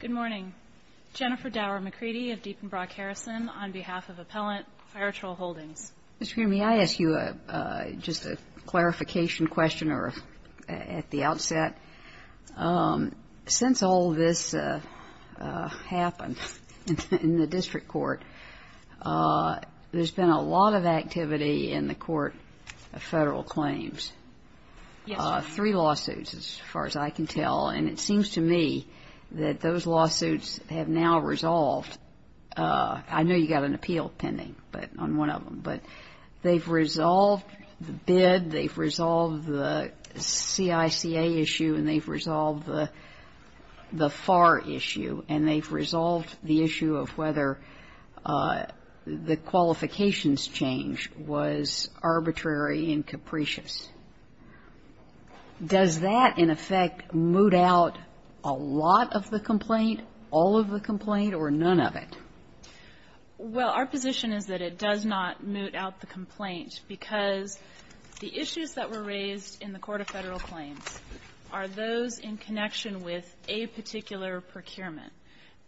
Good morning. Jennifer Dower McCready of Diepenbrock Harrison on behalf of Appellant Fire-Trol Holdings. Ms. Creamy, may I ask you just a clarification question at the outset? Since all this happened in the district court, there's been a lot of activity in the court of federal claims. Yes, ma'am. Three lawsuits, as far as I can tell. And it seems to me that those lawsuits have now resolved. I know you've got an appeal pending on one of them, but they've resolved the bid, they've resolved the CICA issue, and they've resolved the FAR issue, and they've resolved the issue of whether the qualifications change was arbitrary and capricious. Does that, in effect, moot out a lot of the complaint, all of the complaint, or none of it? Well, our position is that it does not moot out the complaint because the issues that were raised in the court of federal claims are those in connection with a particular procurement,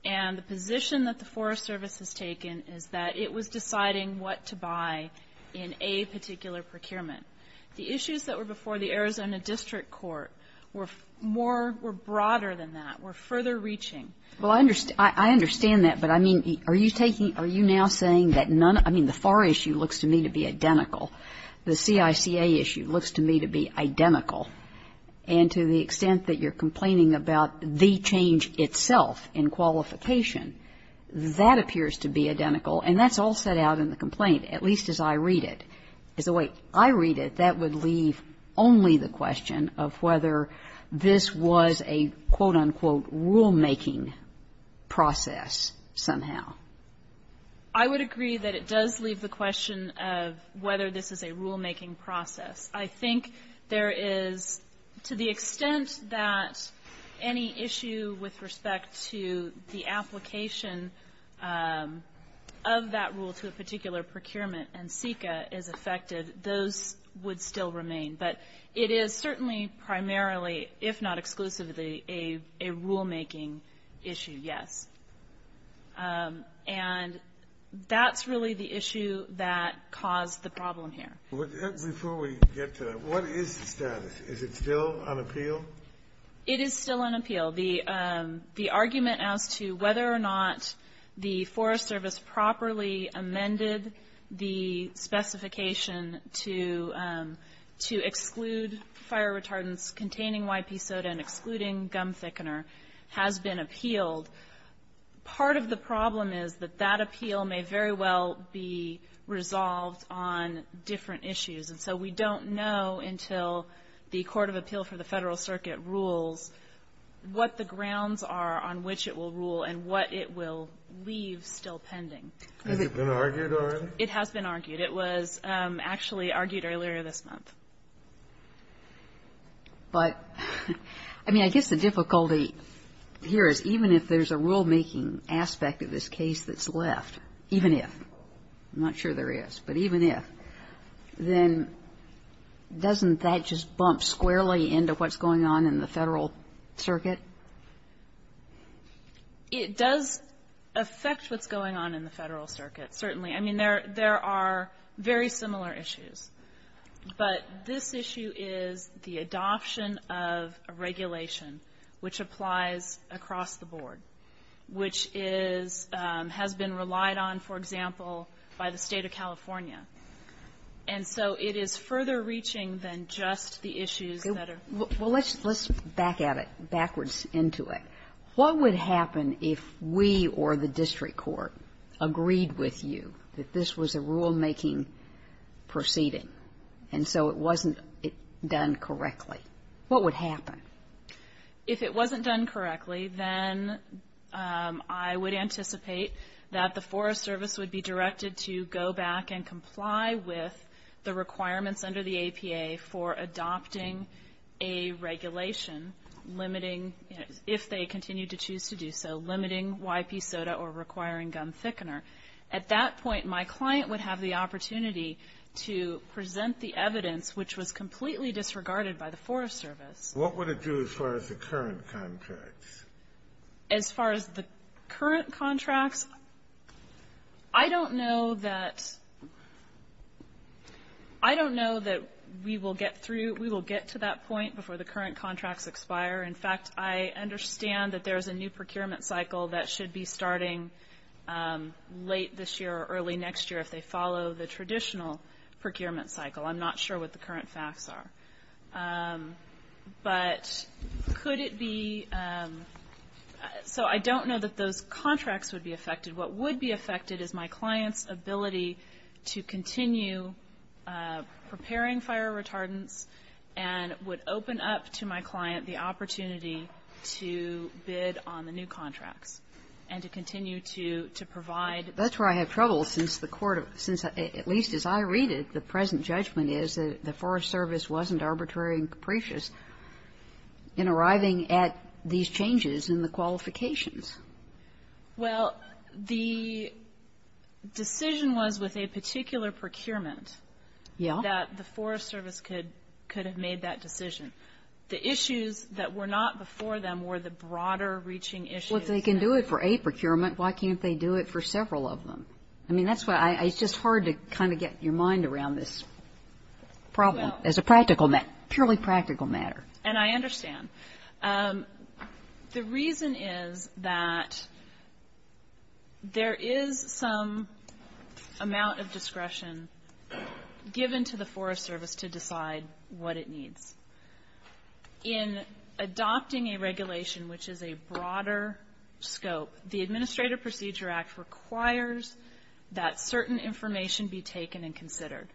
and the position that the Forest Service has taken is that it was deciding what to buy in a particular procurement. The issues that were before the Arizona district court were more, were broader than that, were further reaching. Well, I understand that, but I mean, are you taking, are you now saying that none I mean, the FAR issue looks to me to be identical. The CICA issue looks to me to be identical. And to the extent that you're complaining about the change itself in qualification, that appears to be identical. And that's all set out in the complaint, at least as I read it. As the way I read it, that would leave only the question of whether this was a, quote, unquote, rulemaking process somehow. I would agree that it does leave the question of whether this is a rulemaking process. I think there is, to the extent that any issue with respect to the application of that rule to a particular procurement and CICA is effective, those would still remain. But it is certainly primarily, if not exclusively, a rulemaking issue, yes. And that's really the issue that caused the problem here. Before we get to that, what is the status? Is it still on appeal? It is still on appeal. The argument as to whether or not the Forest Service properly amended the specification to exclude fire retardants containing YP soda and excluding gum thickener has been appealed. Part of the problem is that that appeal may very well be resolved on different issues. And so we don't know until the Court of Appeal for the Federal Circuit rules what the grounds are on which it will rule and what it will leave still pending. Has it been argued already? It has been argued. It was actually argued earlier this month. But, I mean, I guess the difficulty here is even if there is a rulemaking aspect of this case that's left, even if, I'm not sure there is, but even if, then doesn't that just bump squarely into what's going on in the Federal Circuit? It does affect what's going on in the Federal Circuit, certainly. I mean, there are very similar issues. But this issue is the adoption of a regulation which applies across the board, which is, has been relied on, for example, by the State of California. And so it is further reaching than just the issues that are ---- Well, let's back at it, backwards into it. What would happen if we or the district court agreed with you that this was a rulemaking proceeding and so it wasn't done correctly? What would happen? If it wasn't done correctly, then I would anticipate that the Forest Service would be directed to go back and comply with the requirements under the APA for adopting a regulation limiting, if they continue to choose to do so, limiting YP SOTA or requiring gun thickener. At that point, my client would have the opportunity to present the evidence, which was completely disregarded by the Forest Service. What would it do as far as the current contracts? As far as the current contracts, I don't know that we will get through, we will get to that point before the current contracts expire. In fact, I understand that there is a new procurement cycle that should be starting late this year or early next year if they follow the traditional procurement cycle. I'm not sure what the current facts are. But could it be ---- So I don't know that those contracts would be affected. What would be affected is my client's ability to continue preparing fire retardants and would open up to my client the opportunity to bid on the new contracts and to continue to provide ---- Kagan. That's where I have trouble, since the Court of ---- since at least as I read it, the present judgment is that the Forest Service wasn't arbitrary and capricious in arriving at these changes in the qualifications. Well, the decision was with a particular procurement that the Forest Service could have made that decision. The issues that were not before them were the broader reaching issues. Well, if they can do it for a procurement, why can't they do it for several of them? I mean, that's why it's just hard to kind of get your mind around this problem as a practical matter, purely practical matter. And I understand. The reason is that there is some amount of discretion given to the Forest Service to decide what it needs. In adopting a regulation which is a broader scope, the Administrative Procedure Act requires that certain information be taken and considered.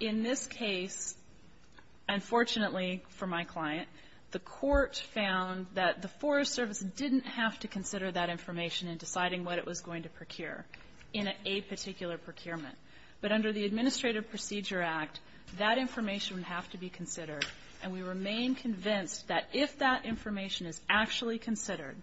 In this case, unfortunately for my client, the Court found that the Forest Service didn't have to consider that information in deciding what it was going to procure in a particular procurement. But under the Administrative Procedure Act, that information would have to be considered. And we remain convinced that if that information is actually considered,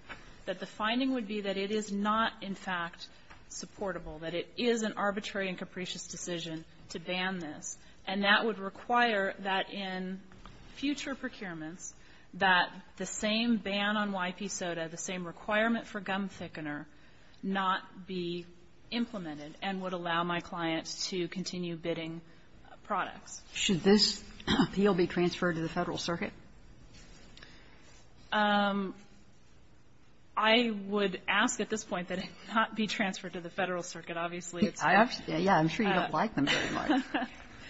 that the finding would be that it is not in fact supportable, that it is an arbitrary and capricious decision to ban this. And that would require that in future procurements that the same ban on YP soda, the same requirement for gum thickener, not be implemented and would allow my clients to continue bidding products. Sotomayor, should this appeal be transferred to the Federal Circuit? I would ask at this point that it not be transferred to the Federal Circuit. Obviously, it's not. Yeah. I'm sure you don't like them very much.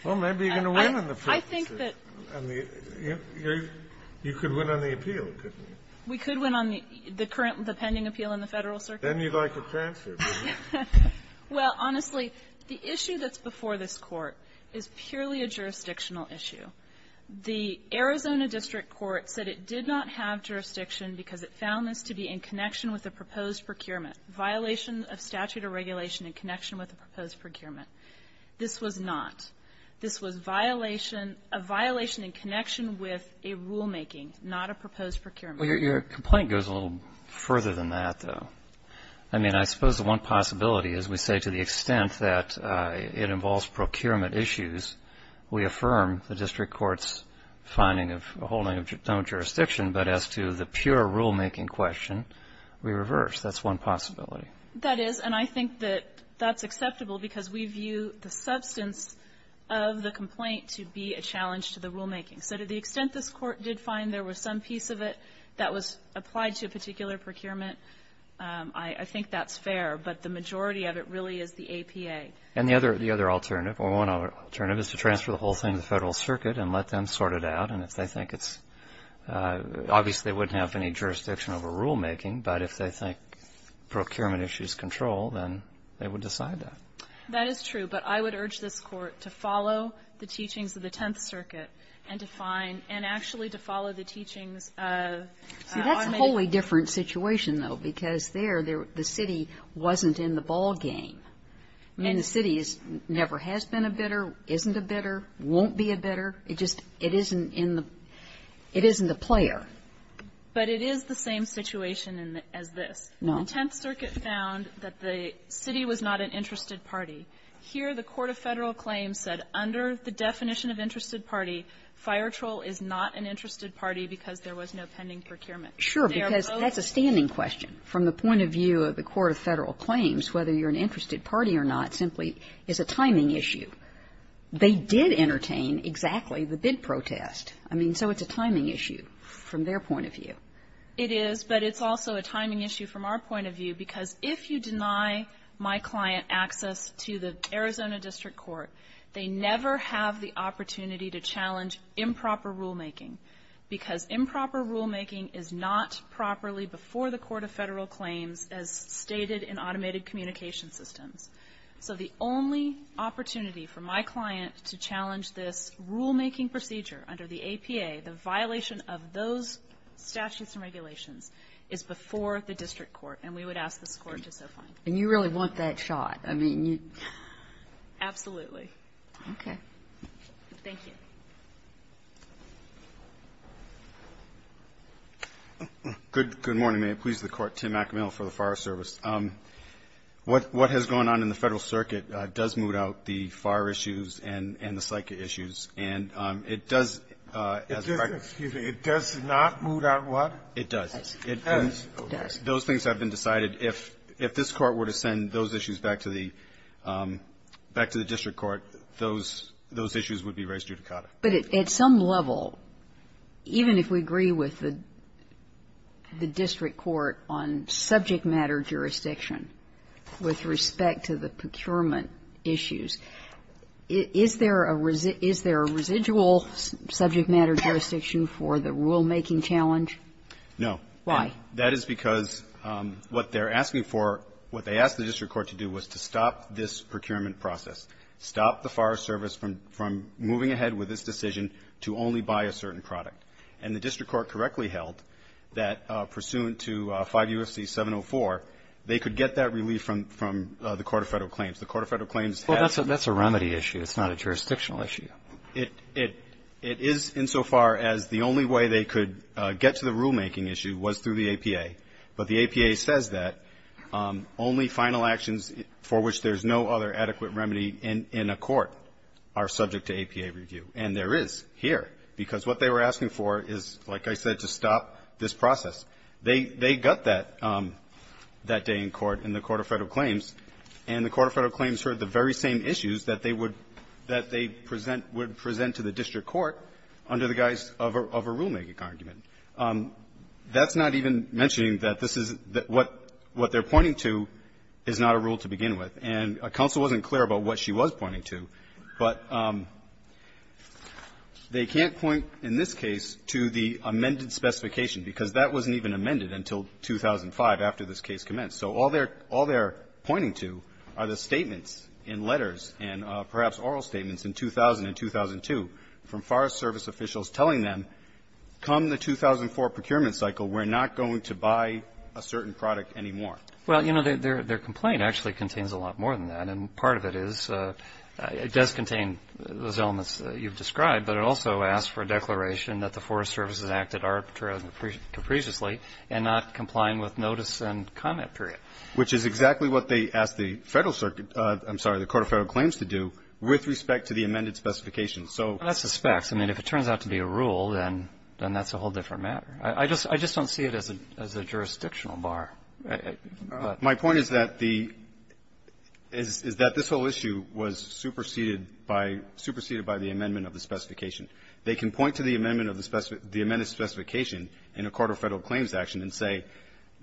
Well, maybe you're going to win on the Federal Circuit. I think that you could win on the appeal, couldn't you? We could win on the current, the pending appeal in the Federal Circuit. Then you'd like it transferred, wouldn't you? Well, honestly, the issue that's before this Court is purely a jurisdictional issue. The Arizona district court said it did not have jurisdiction because it found this to be in connection with a proposed procurement, violation of statute or regulation in connection with a proposed procurement. This was not. This was violation, a violation in connection with a rulemaking, not a proposed procurement. Your complaint goes a little further than that, though. I mean, I suppose the one possibility is we say to the extent that it involves procurement issues, we affirm the district court's finding of holding of no jurisdiction. But as to the pure rulemaking question, we reverse. That's one possibility. That is. And I think that that's acceptable because we view the substance of the complaint to be a challenge to the rulemaking. So to the extent this Court did find there was some piece of it that was applied to a particular procurement, I think that's fair. But the majority of it really is the APA. And the other alternative, or one alternative, is to transfer the whole thing to the Federal Circuit and let them sort it out. And if they think it's – obviously, they wouldn't have any jurisdiction over rulemaking, but if they think procurement issues control, then they would decide that. That is true. But I would urge this Court to follow the teachings of the Tenth Circuit and to find – and actually to follow the teachings of automated – Kagan. See, that's a wholly different situation, though, because there, the city wasn't in the ballgame. I mean, the city is – never has been a bidder, isn't a bidder, won't be a bidder. It just – it isn't in the – it isn't a player. But it is the same situation as this. No. The Tenth Circuit found that the city was not an interested party. Here, the court of Federal claims said, under the definition of interested party, Fire Troll is not an interested party because there was no pending procurement. They are both. Sure, because that's a standing question. From the point of view of the court of Federal claims, whether you're an interested party or not simply is a timing issue. They did entertain exactly the bid protest. I mean, so it's a timing issue from their point of view. It is, but it's also a timing issue from our point of view because if you deny my client access to the Arizona District Court, they never have the opportunity to challenge improper rulemaking because improper rulemaking is not properly before the court of Federal claims as stated in automated communication systems. So the only opportunity for my client to challenge this rulemaking procedure under the APA, the violation of those statutes and regulations, is before the district court, and we would ask this Court to so find. And you really want that shot. I mean, you. Absolutely. Okay. Thank you. Good morning. May it please the Court. Tim McAmel for the Fire Service. What has gone on in the Federal Circuit does move out the fire issues and the psych issues. And it does as a practice. It does not move out what? It does. It does. Those things have been decided. If this Court were to send those issues back to the district court, those issues would be raised judicata. But at some level, even if we agree with the district court on subject matter jurisdiction with respect to the procurement issues, is there a residual subject matter jurisdiction for the rulemaking challenge? No. Why? That is because what they're asking for, what they asked the district court to do was to stop this procurement process, stop the fire service from moving ahead with this decision to only buy a certain product. And the district court correctly held that pursuant to 5 U.S.C. 704, they could get that relief from the Court of Federal Claims. The Court of Federal Claims has to do that. Well, that's a remedy issue. It's not a jurisdictional issue. It is insofar as the only way they could get to the rulemaking issue was through the APA. But the APA says that only final actions for which there's no other adequate remedy in a court are subject to APA review. And there is here, because what they were asking for is, like I said, to stop this process. They got that that day in court, in the Court of Federal Claims. And the Court of Federal Claims heard the very same issues that they would present to the district court under the guise of a rulemaking argument. That's not even mentioning that this is what they're pointing to is not a rule to begin with. And counsel wasn't clear about what she was pointing to. But they can't point, in this case, to the amended specification, because that wasn't even amended until 2005, after this case commenced. So all they're pointing to are the statements in letters and perhaps oral statements in 2000 and 2002 from Forest Service officials telling them, come the 2004 procurement cycle, we're not going to buy a certain product anymore. Well, you know, their complaint actually contains a lot more than that. And part of it is, it does contain those elements that you've described, but it also asks for a declaration that the Forest Service has acted arbitrarily and capriciously and not complying with notice and comment period. Which is exactly what they asked the Federal Circuit, I'm sorry, the Court of Federal Claims to do with respect to the amended specification. So that's the specs. I mean, if it turns out to be a rule, then that's a whole different matter. I just don't see it as a jurisdictional bar. My point is that the – is that this whole issue was superseded by – superseded by the amendment of the specification. They can point to the amendment of the specified – the amended specification in a Court of Federal Claims action and say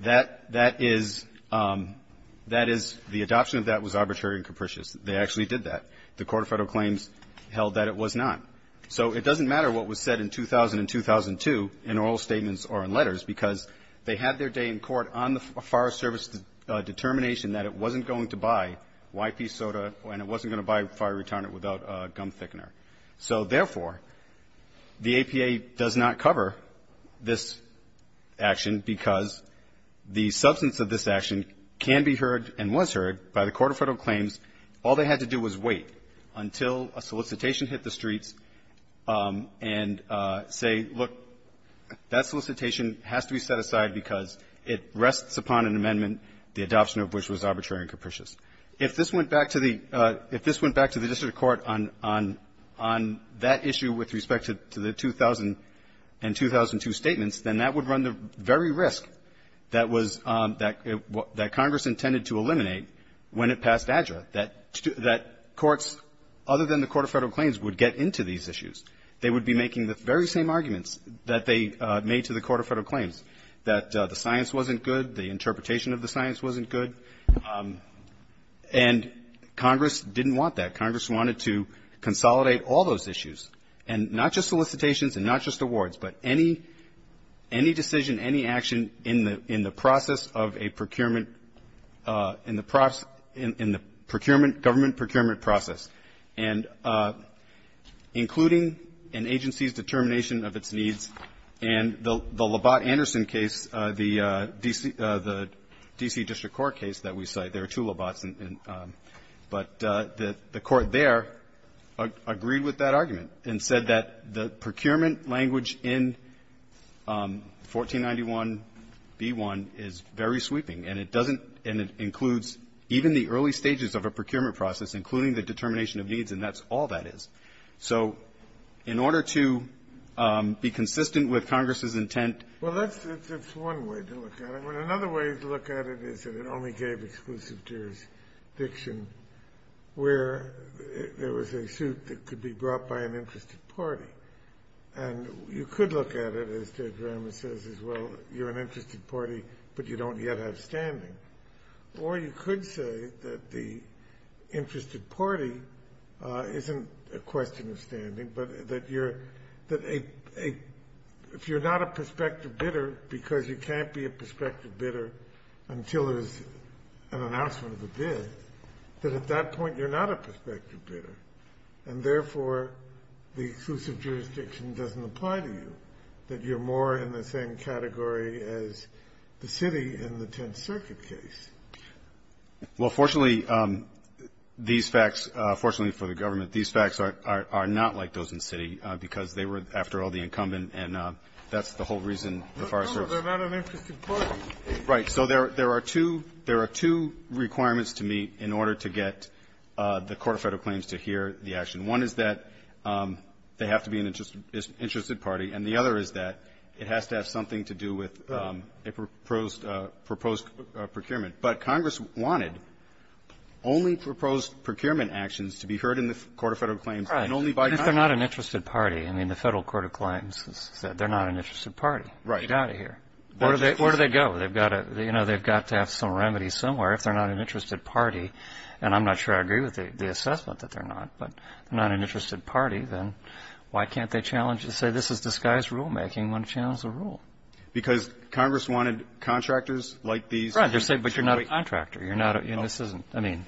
that that is – that is – the adoption of that was arbitrary and capricious. They actually did that. The Court of Federal Claims held that it was not. So it doesn't matter what was said in 2000 and 2002 in oral statements or in letters, because they had their day in court on the fire service determination that it wasn't going to buy YP soda and it wasn't going to buy fire retirement without gum thickener. So, therefore, the APA does not cover this action because the substance of this action can be heard and was heard by the Court of Federal Claims. All they had to do was wait until a solicitation hit the streets and say, look, that has to be set aside because it rests upon an amendment, the adoption of which was arbitrary and capricious. If this went back to the – if this went back to the district court on – on that issue with respect to the 2000 and 2002 statements, then that would run the very risk that was – that Congress intended to eliminate when it passed ADDRA, that courts, other than the Court of Federal Claims, would get into these issues. They would be making the very same arguments that they made to the Court of Federal Claims, that the science wasn't good, the interpretation of the science wasn't good. And Congress didn't want that. Congress wanted to consolidate all those issues, and not just solicitations and not just awards, but any – any decision, any action in the – in the process of a procurement – in the – in the procurement – government procurement process, and including an agency's determination of its needs. And the – the Labatt-Anderson case, the D.C. – the D.C. district court case that we cite, there are two Labatts, and – but the – the court there agreed with that argument and said that the procurement language in 1491b1 is very sweeping, and it doesn't – and it includes even the early stages of a procurement process, including the determination of needs, and that's all that is. So in order to be consistent with Congress's intent — Kennedy. Well, that's – that's one way to look at it. But another way to look at it is that it only gave exclusive jurisdiction where there was a suit that could be brought by an interested party. And you could look at it, as Judge Ramos says, as, well, you're an interested party, but you don't yet have standing. Or you could say that the interested party isn't a question of standing, but that you're – that a – if you're not a prospective bidder, because you can't be a prospective bidder until there's an announcement of a bid, that at that point you're not a prospective bidder, and therefore, the exclusive jurisdiction doesn't apply to you, that you're more in the same circuit case. Well, fortunately, these facts – fortunately for the government, these facts are not like those in Citi, because they were, after all, the incumbent, and that's the whole reason the Forest Service — No, no, they're not an interested party. Right. So there are two – there are two requirements to meet in order to get the Court of Federal Claims to hear the action. One is that they have to be an interested party, and the other is that it has to have something to do with a proposed procurement. But Congress wanted only proposed procurement actions to be heard in the Court of Federal Claims and only by Congress. Right. If they're not an interested party – I mean, the Federal Court of Claims has said they're not an interested party. Right. Get out of here. Where do they go? They've got to – you know, they've got to have some remedy somewhere. If they're not an interested party – and I'm not sure I agree with the assessment that they're not, but they're not an interested party, then why can't they challenge – say this is disguised rulemaking, why not challenge the rule? Because Congress wanted contractors like these. Right. They're saying, but you're not a contractor. You're not a – and this isn't – I mean,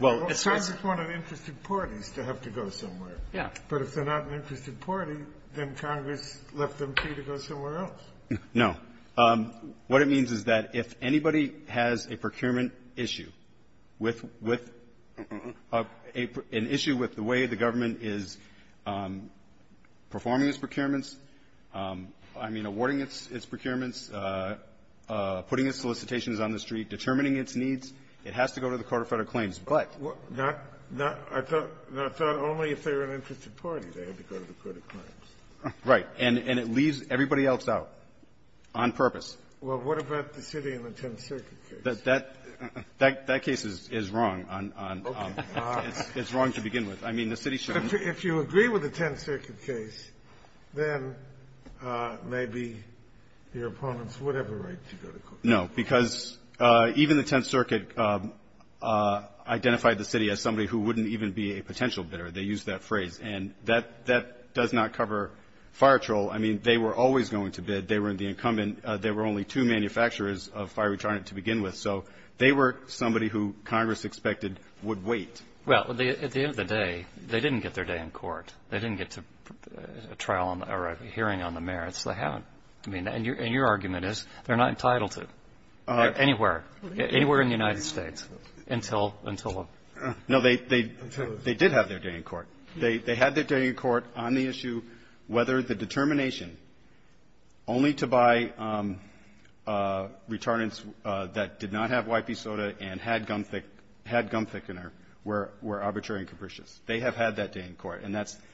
well, it's sort of – Well, Congress wanted interested parties to have to go somewhere. Yeah. But if they're not an interested party, then Congress left them free to go somewhere else. No. What it means is that if anybody has a procurement issue with – with an issue with the way the government is performing its procurements, I mean, awarding its procurements, putting its solicitations on the street, determining its needs, it has to go to the Court of Federal Claims. But – Well, not – not – I thought – I thought only if they were an interested party, they had to go to the Court of Claims. Right. And it leaves everybody else out on purpose. Well, what about the city and the 10th Circuit case? That – that case is wrong on – on – Okay. It's – it's wrong to begin with. I mean, the city shouldn't – If you agree with the 10th Circuit case, then maybe your opponents would have the right to go to – No, because even the 10th Circuit identified the city as somebody who wouldn't even be a potential bidder. They used that phrase. And that – that does not cover fire troll. I mean, they were always going to bid. They were in the incumbent – they were only two manufacturers of fire retardant to begin with. So they were somebody who Congress expected would wait. Well, at the end of the day, they didn't get their day in court. They didn't get to a trial or a hearing on the merits. They haven't. I mean, and your – and your argument is they're not entitled to anywhere – anywhere in the United States until – until a – No, they – they did have their day in court. They – they had their day in court on the issue whether the determination only to buy retardants that did not have YP soda and had gum thick – had gum thickener were – were arbitrary and capricious. They have had that day in court, and that's –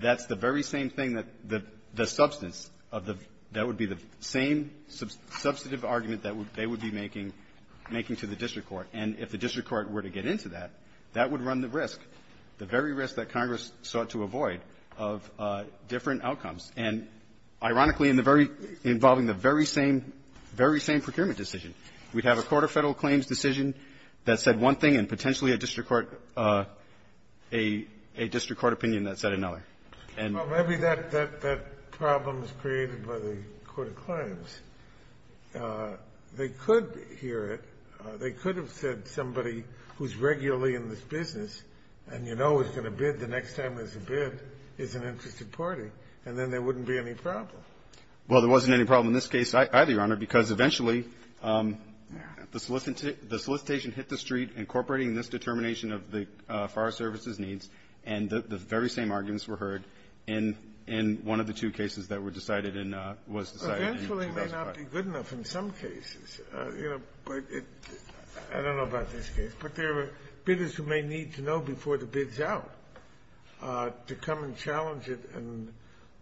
that's the very same thing that the – the substance of the – that would be the same substantive argument that they would be making – making to the district court. And if the district court were to get into that, that would run the risk, the very risk that Congress sought to avoid of different outcomes. And, ironically, in the very – involving the very same – very same procurement decision, we'd have a court of Federal claims decision that said one thing and potentially a district court – a – a district court opinion that said another. And – Well, maybe that – that problem was created by the court of claims. They could hear it. They could have said somebody who's regularly in this business and you know is going to bid the next time there's a bid is an interested party. And then there wouldn't be any problem. Well, there wasn't any problem in this case either, Your Honor, because eventually the solicitation – the solicitation hit the street incorporating this determination of the Forest Service's needs, and the very same arguments were heard in – in one of the two cases that were decided in – was decided in the last five. Eventually may not be good enough in some cases. You know, but it – I don't know about this case. But there are bidders who may need to know before the bid's out to come and challenge it and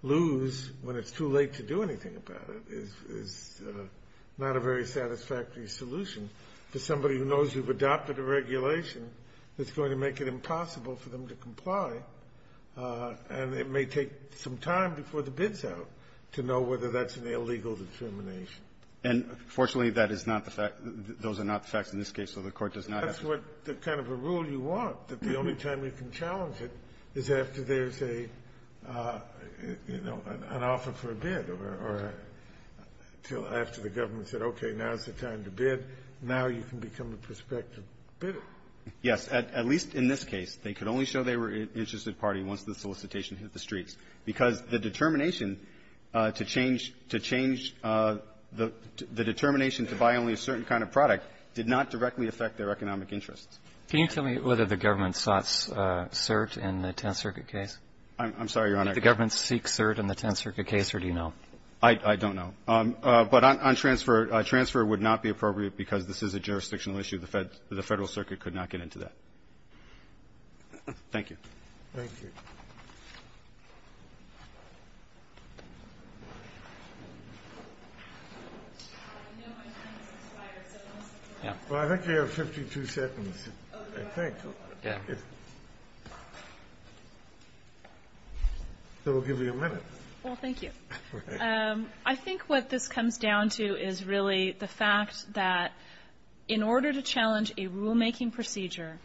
lose when it's too late to do anything about it is – is not a very satisfactory solution for somebody who knows you've adopted a regulation that's going to make it impossible for them to comply. And it may take some time before the bid's out to know whether that's an illegal determination. And fortunately, that is not the fact – those are not the facts in this case, so the Court does not have to – That's what the kind of a rule you want, that the only time you can challenge it is after there's a – you know, an offer for a bid or a – till after the government said, okay, now's the time to bid, now you can become a prospective bidder. Yes. At least in this case, they could only show they were an interested party once the solicitation hit the streets, because the determination to change – to change the determination to buy only a certain kind of product did not directly affect their economic interests. Can you tell me whether the government sought cert in the Tenth Circuit case? I'm sorry, Your Honor. Did the government seek cert in the Tenth Circuit case, or do you know? I don't know. But on transfer, transfer would not be appropriate because this is a jurisdictional issue. The Federal Circuit could not get into that. Thank you. Thank you. Well, I think you have 52 seconds, I think. Yeah. So we'll give you a minute. Well, thank you. I think what this comes down to is really the fact that in order to challenge a rulemaking procedure,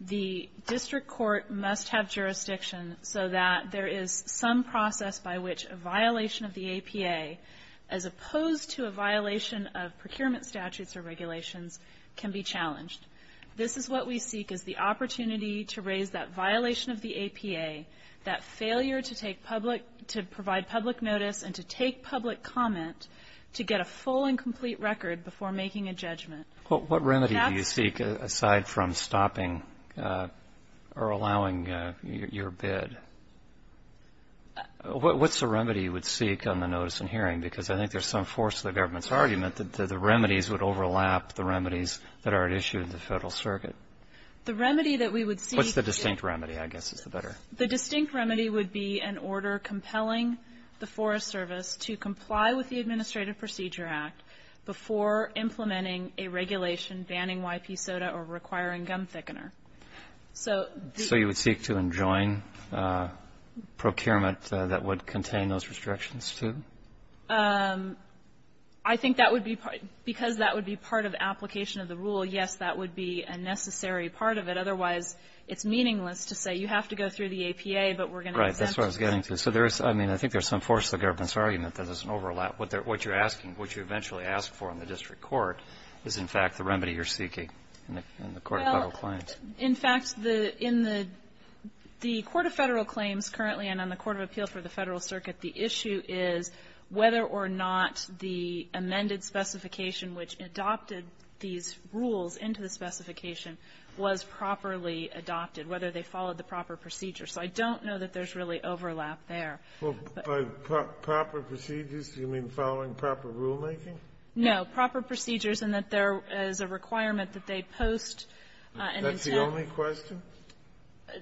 the district court must have jurisdiction so that there is some process by which a violation of the APA, as opposed to a violation of procurement statutes or regulations, can be challenged. This is what we seek, is the opportunity to raise that violation of the APA, that failure to take public – to provide public notice and to take public comment to get a full and complete record before making a judgment. Well, what remedy do you seek aside from stopping or allowing your bid? What's the remedy you would seek on the notice and hearing? Because I think there's some force to the government's argument that the remedies would overlap the remedies that are at issue in the Federal Circuit. The remedy that we would seek is the – What's the distinct remedy, I guess, is the better? The distinct remedy would be an order compelling the Forest Service to comply with the Administrative Procedure Act before implementing a regulation banning YP Soda or requiring gum thickener. So the – So you would seek to enjoin procurement that would contain those restrictions, too? I think that would be – because that would be part of application of the rule, yes, that would be a necessary part of it. Otherwise, it's meaningless to say you have to go through the APA, but we're going to attempt – Right. That's what I was getting to. So there is – I mean, I think there's some force to the government's argument that there's an overlap. What you're asking, what you eventually ask for in the district court is, in fact, the remedy you're seeking in the court of Federal claims. Well, in fact, the – in the court of Federal claims currently and on the court of appeals for the Federal Circuit, the issue is whether or not the amended specification which adopted these rules into the specification was properly adopted, whether they followed the proper procedure. So I don't know that there's really overlap there. Well, by proper procedures, do you mean following proper rulemaking? No. Proper procedures in that there is a requirement that they post an intent. That's the only question?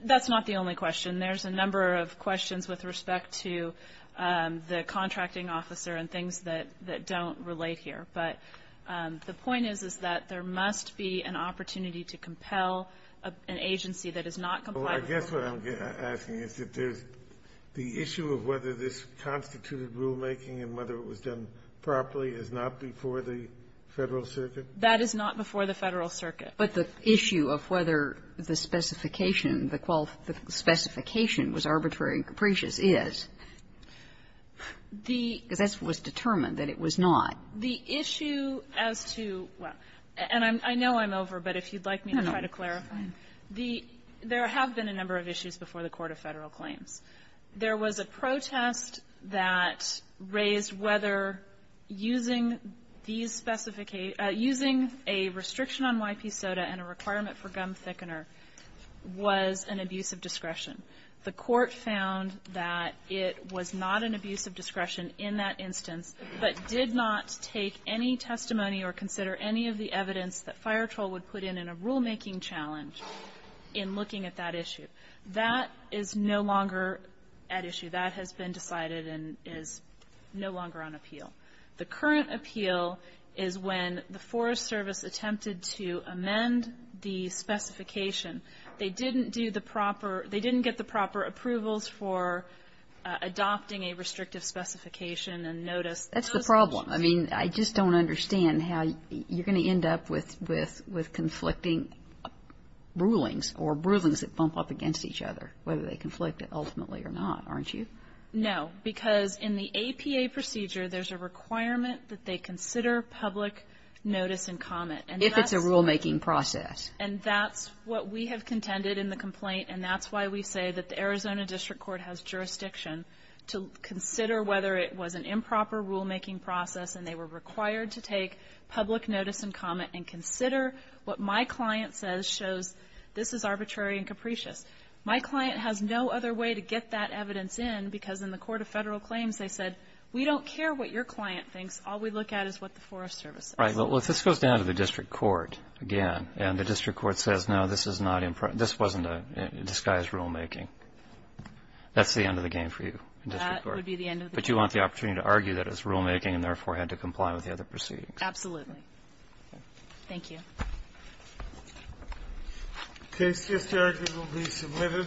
That's not the only question. There's a number of questions with respect to the contracting officer and things that don't relate here. But the point is, is that there must be an opportunity to compel an agency that does not comply with the rule. Well, I guess what I'm asking is that there's the issue of whether this constituted rulemaking and whether it was done properly is not before the Federal Circuit? That is not before the Federal Circuit. But the issue of whether the specification, the qualification, the specification was arbitrary and capricious is. The – Because that was determined that it was not. The issue as to – and I know I'm over, but if you'd like me to try to clarify. No. The – there have been a number of issues before the Court of Federal Claims. There was a protest that raised whether using these – using a restriction on YP soda and a requirement for gum thickener was an abuse of discretion. The Court found that it was not an abuse of discretion in that instance, but did not take any testimony or consider any of the evidence that FireTroll would put in a rulemaking challenge in looking at that issue. That is no longer at issue. That has been decided and is no longer on appeal. The current appeal is when the Forest Service attempted to amend the specification. They didn't do the proper – they didn't get the proper approvals for adopting a restrictive specification and notice. That's the problem. I mean, I just don't understand how you're going to end up with conflicting rulings or rulings that bump up against each other, whether they conflict ultimately or not, aren't you? No, because in the APA procedure, there's a requirement that they consider public notice and comment. If it's a rulemaking process. And that's what we have contended in the complaint, and that's why we say that the Arizona District Court has jurisdiction to consider whether it was an and they were required to take public notice and comment and consider what my client says shows this is arbitrary and capricious. My client has no other way to get that evidence in, because in the Court of Federal Claims, they said, we don't care what your client thinks. All we look at is what the Forest Service says. Right. Well, if this goes down to the District Court again, and the District Court says, no, this is not – this wasn't a disguised rulemaking, that's the end of the game for you in District Court. That would be the end of the game. But you want the opportunity to argue that it's rulemaking and, therefore, had to comply with the other proceedings. Absolutely. Thank you. The case is here. It will be submitted.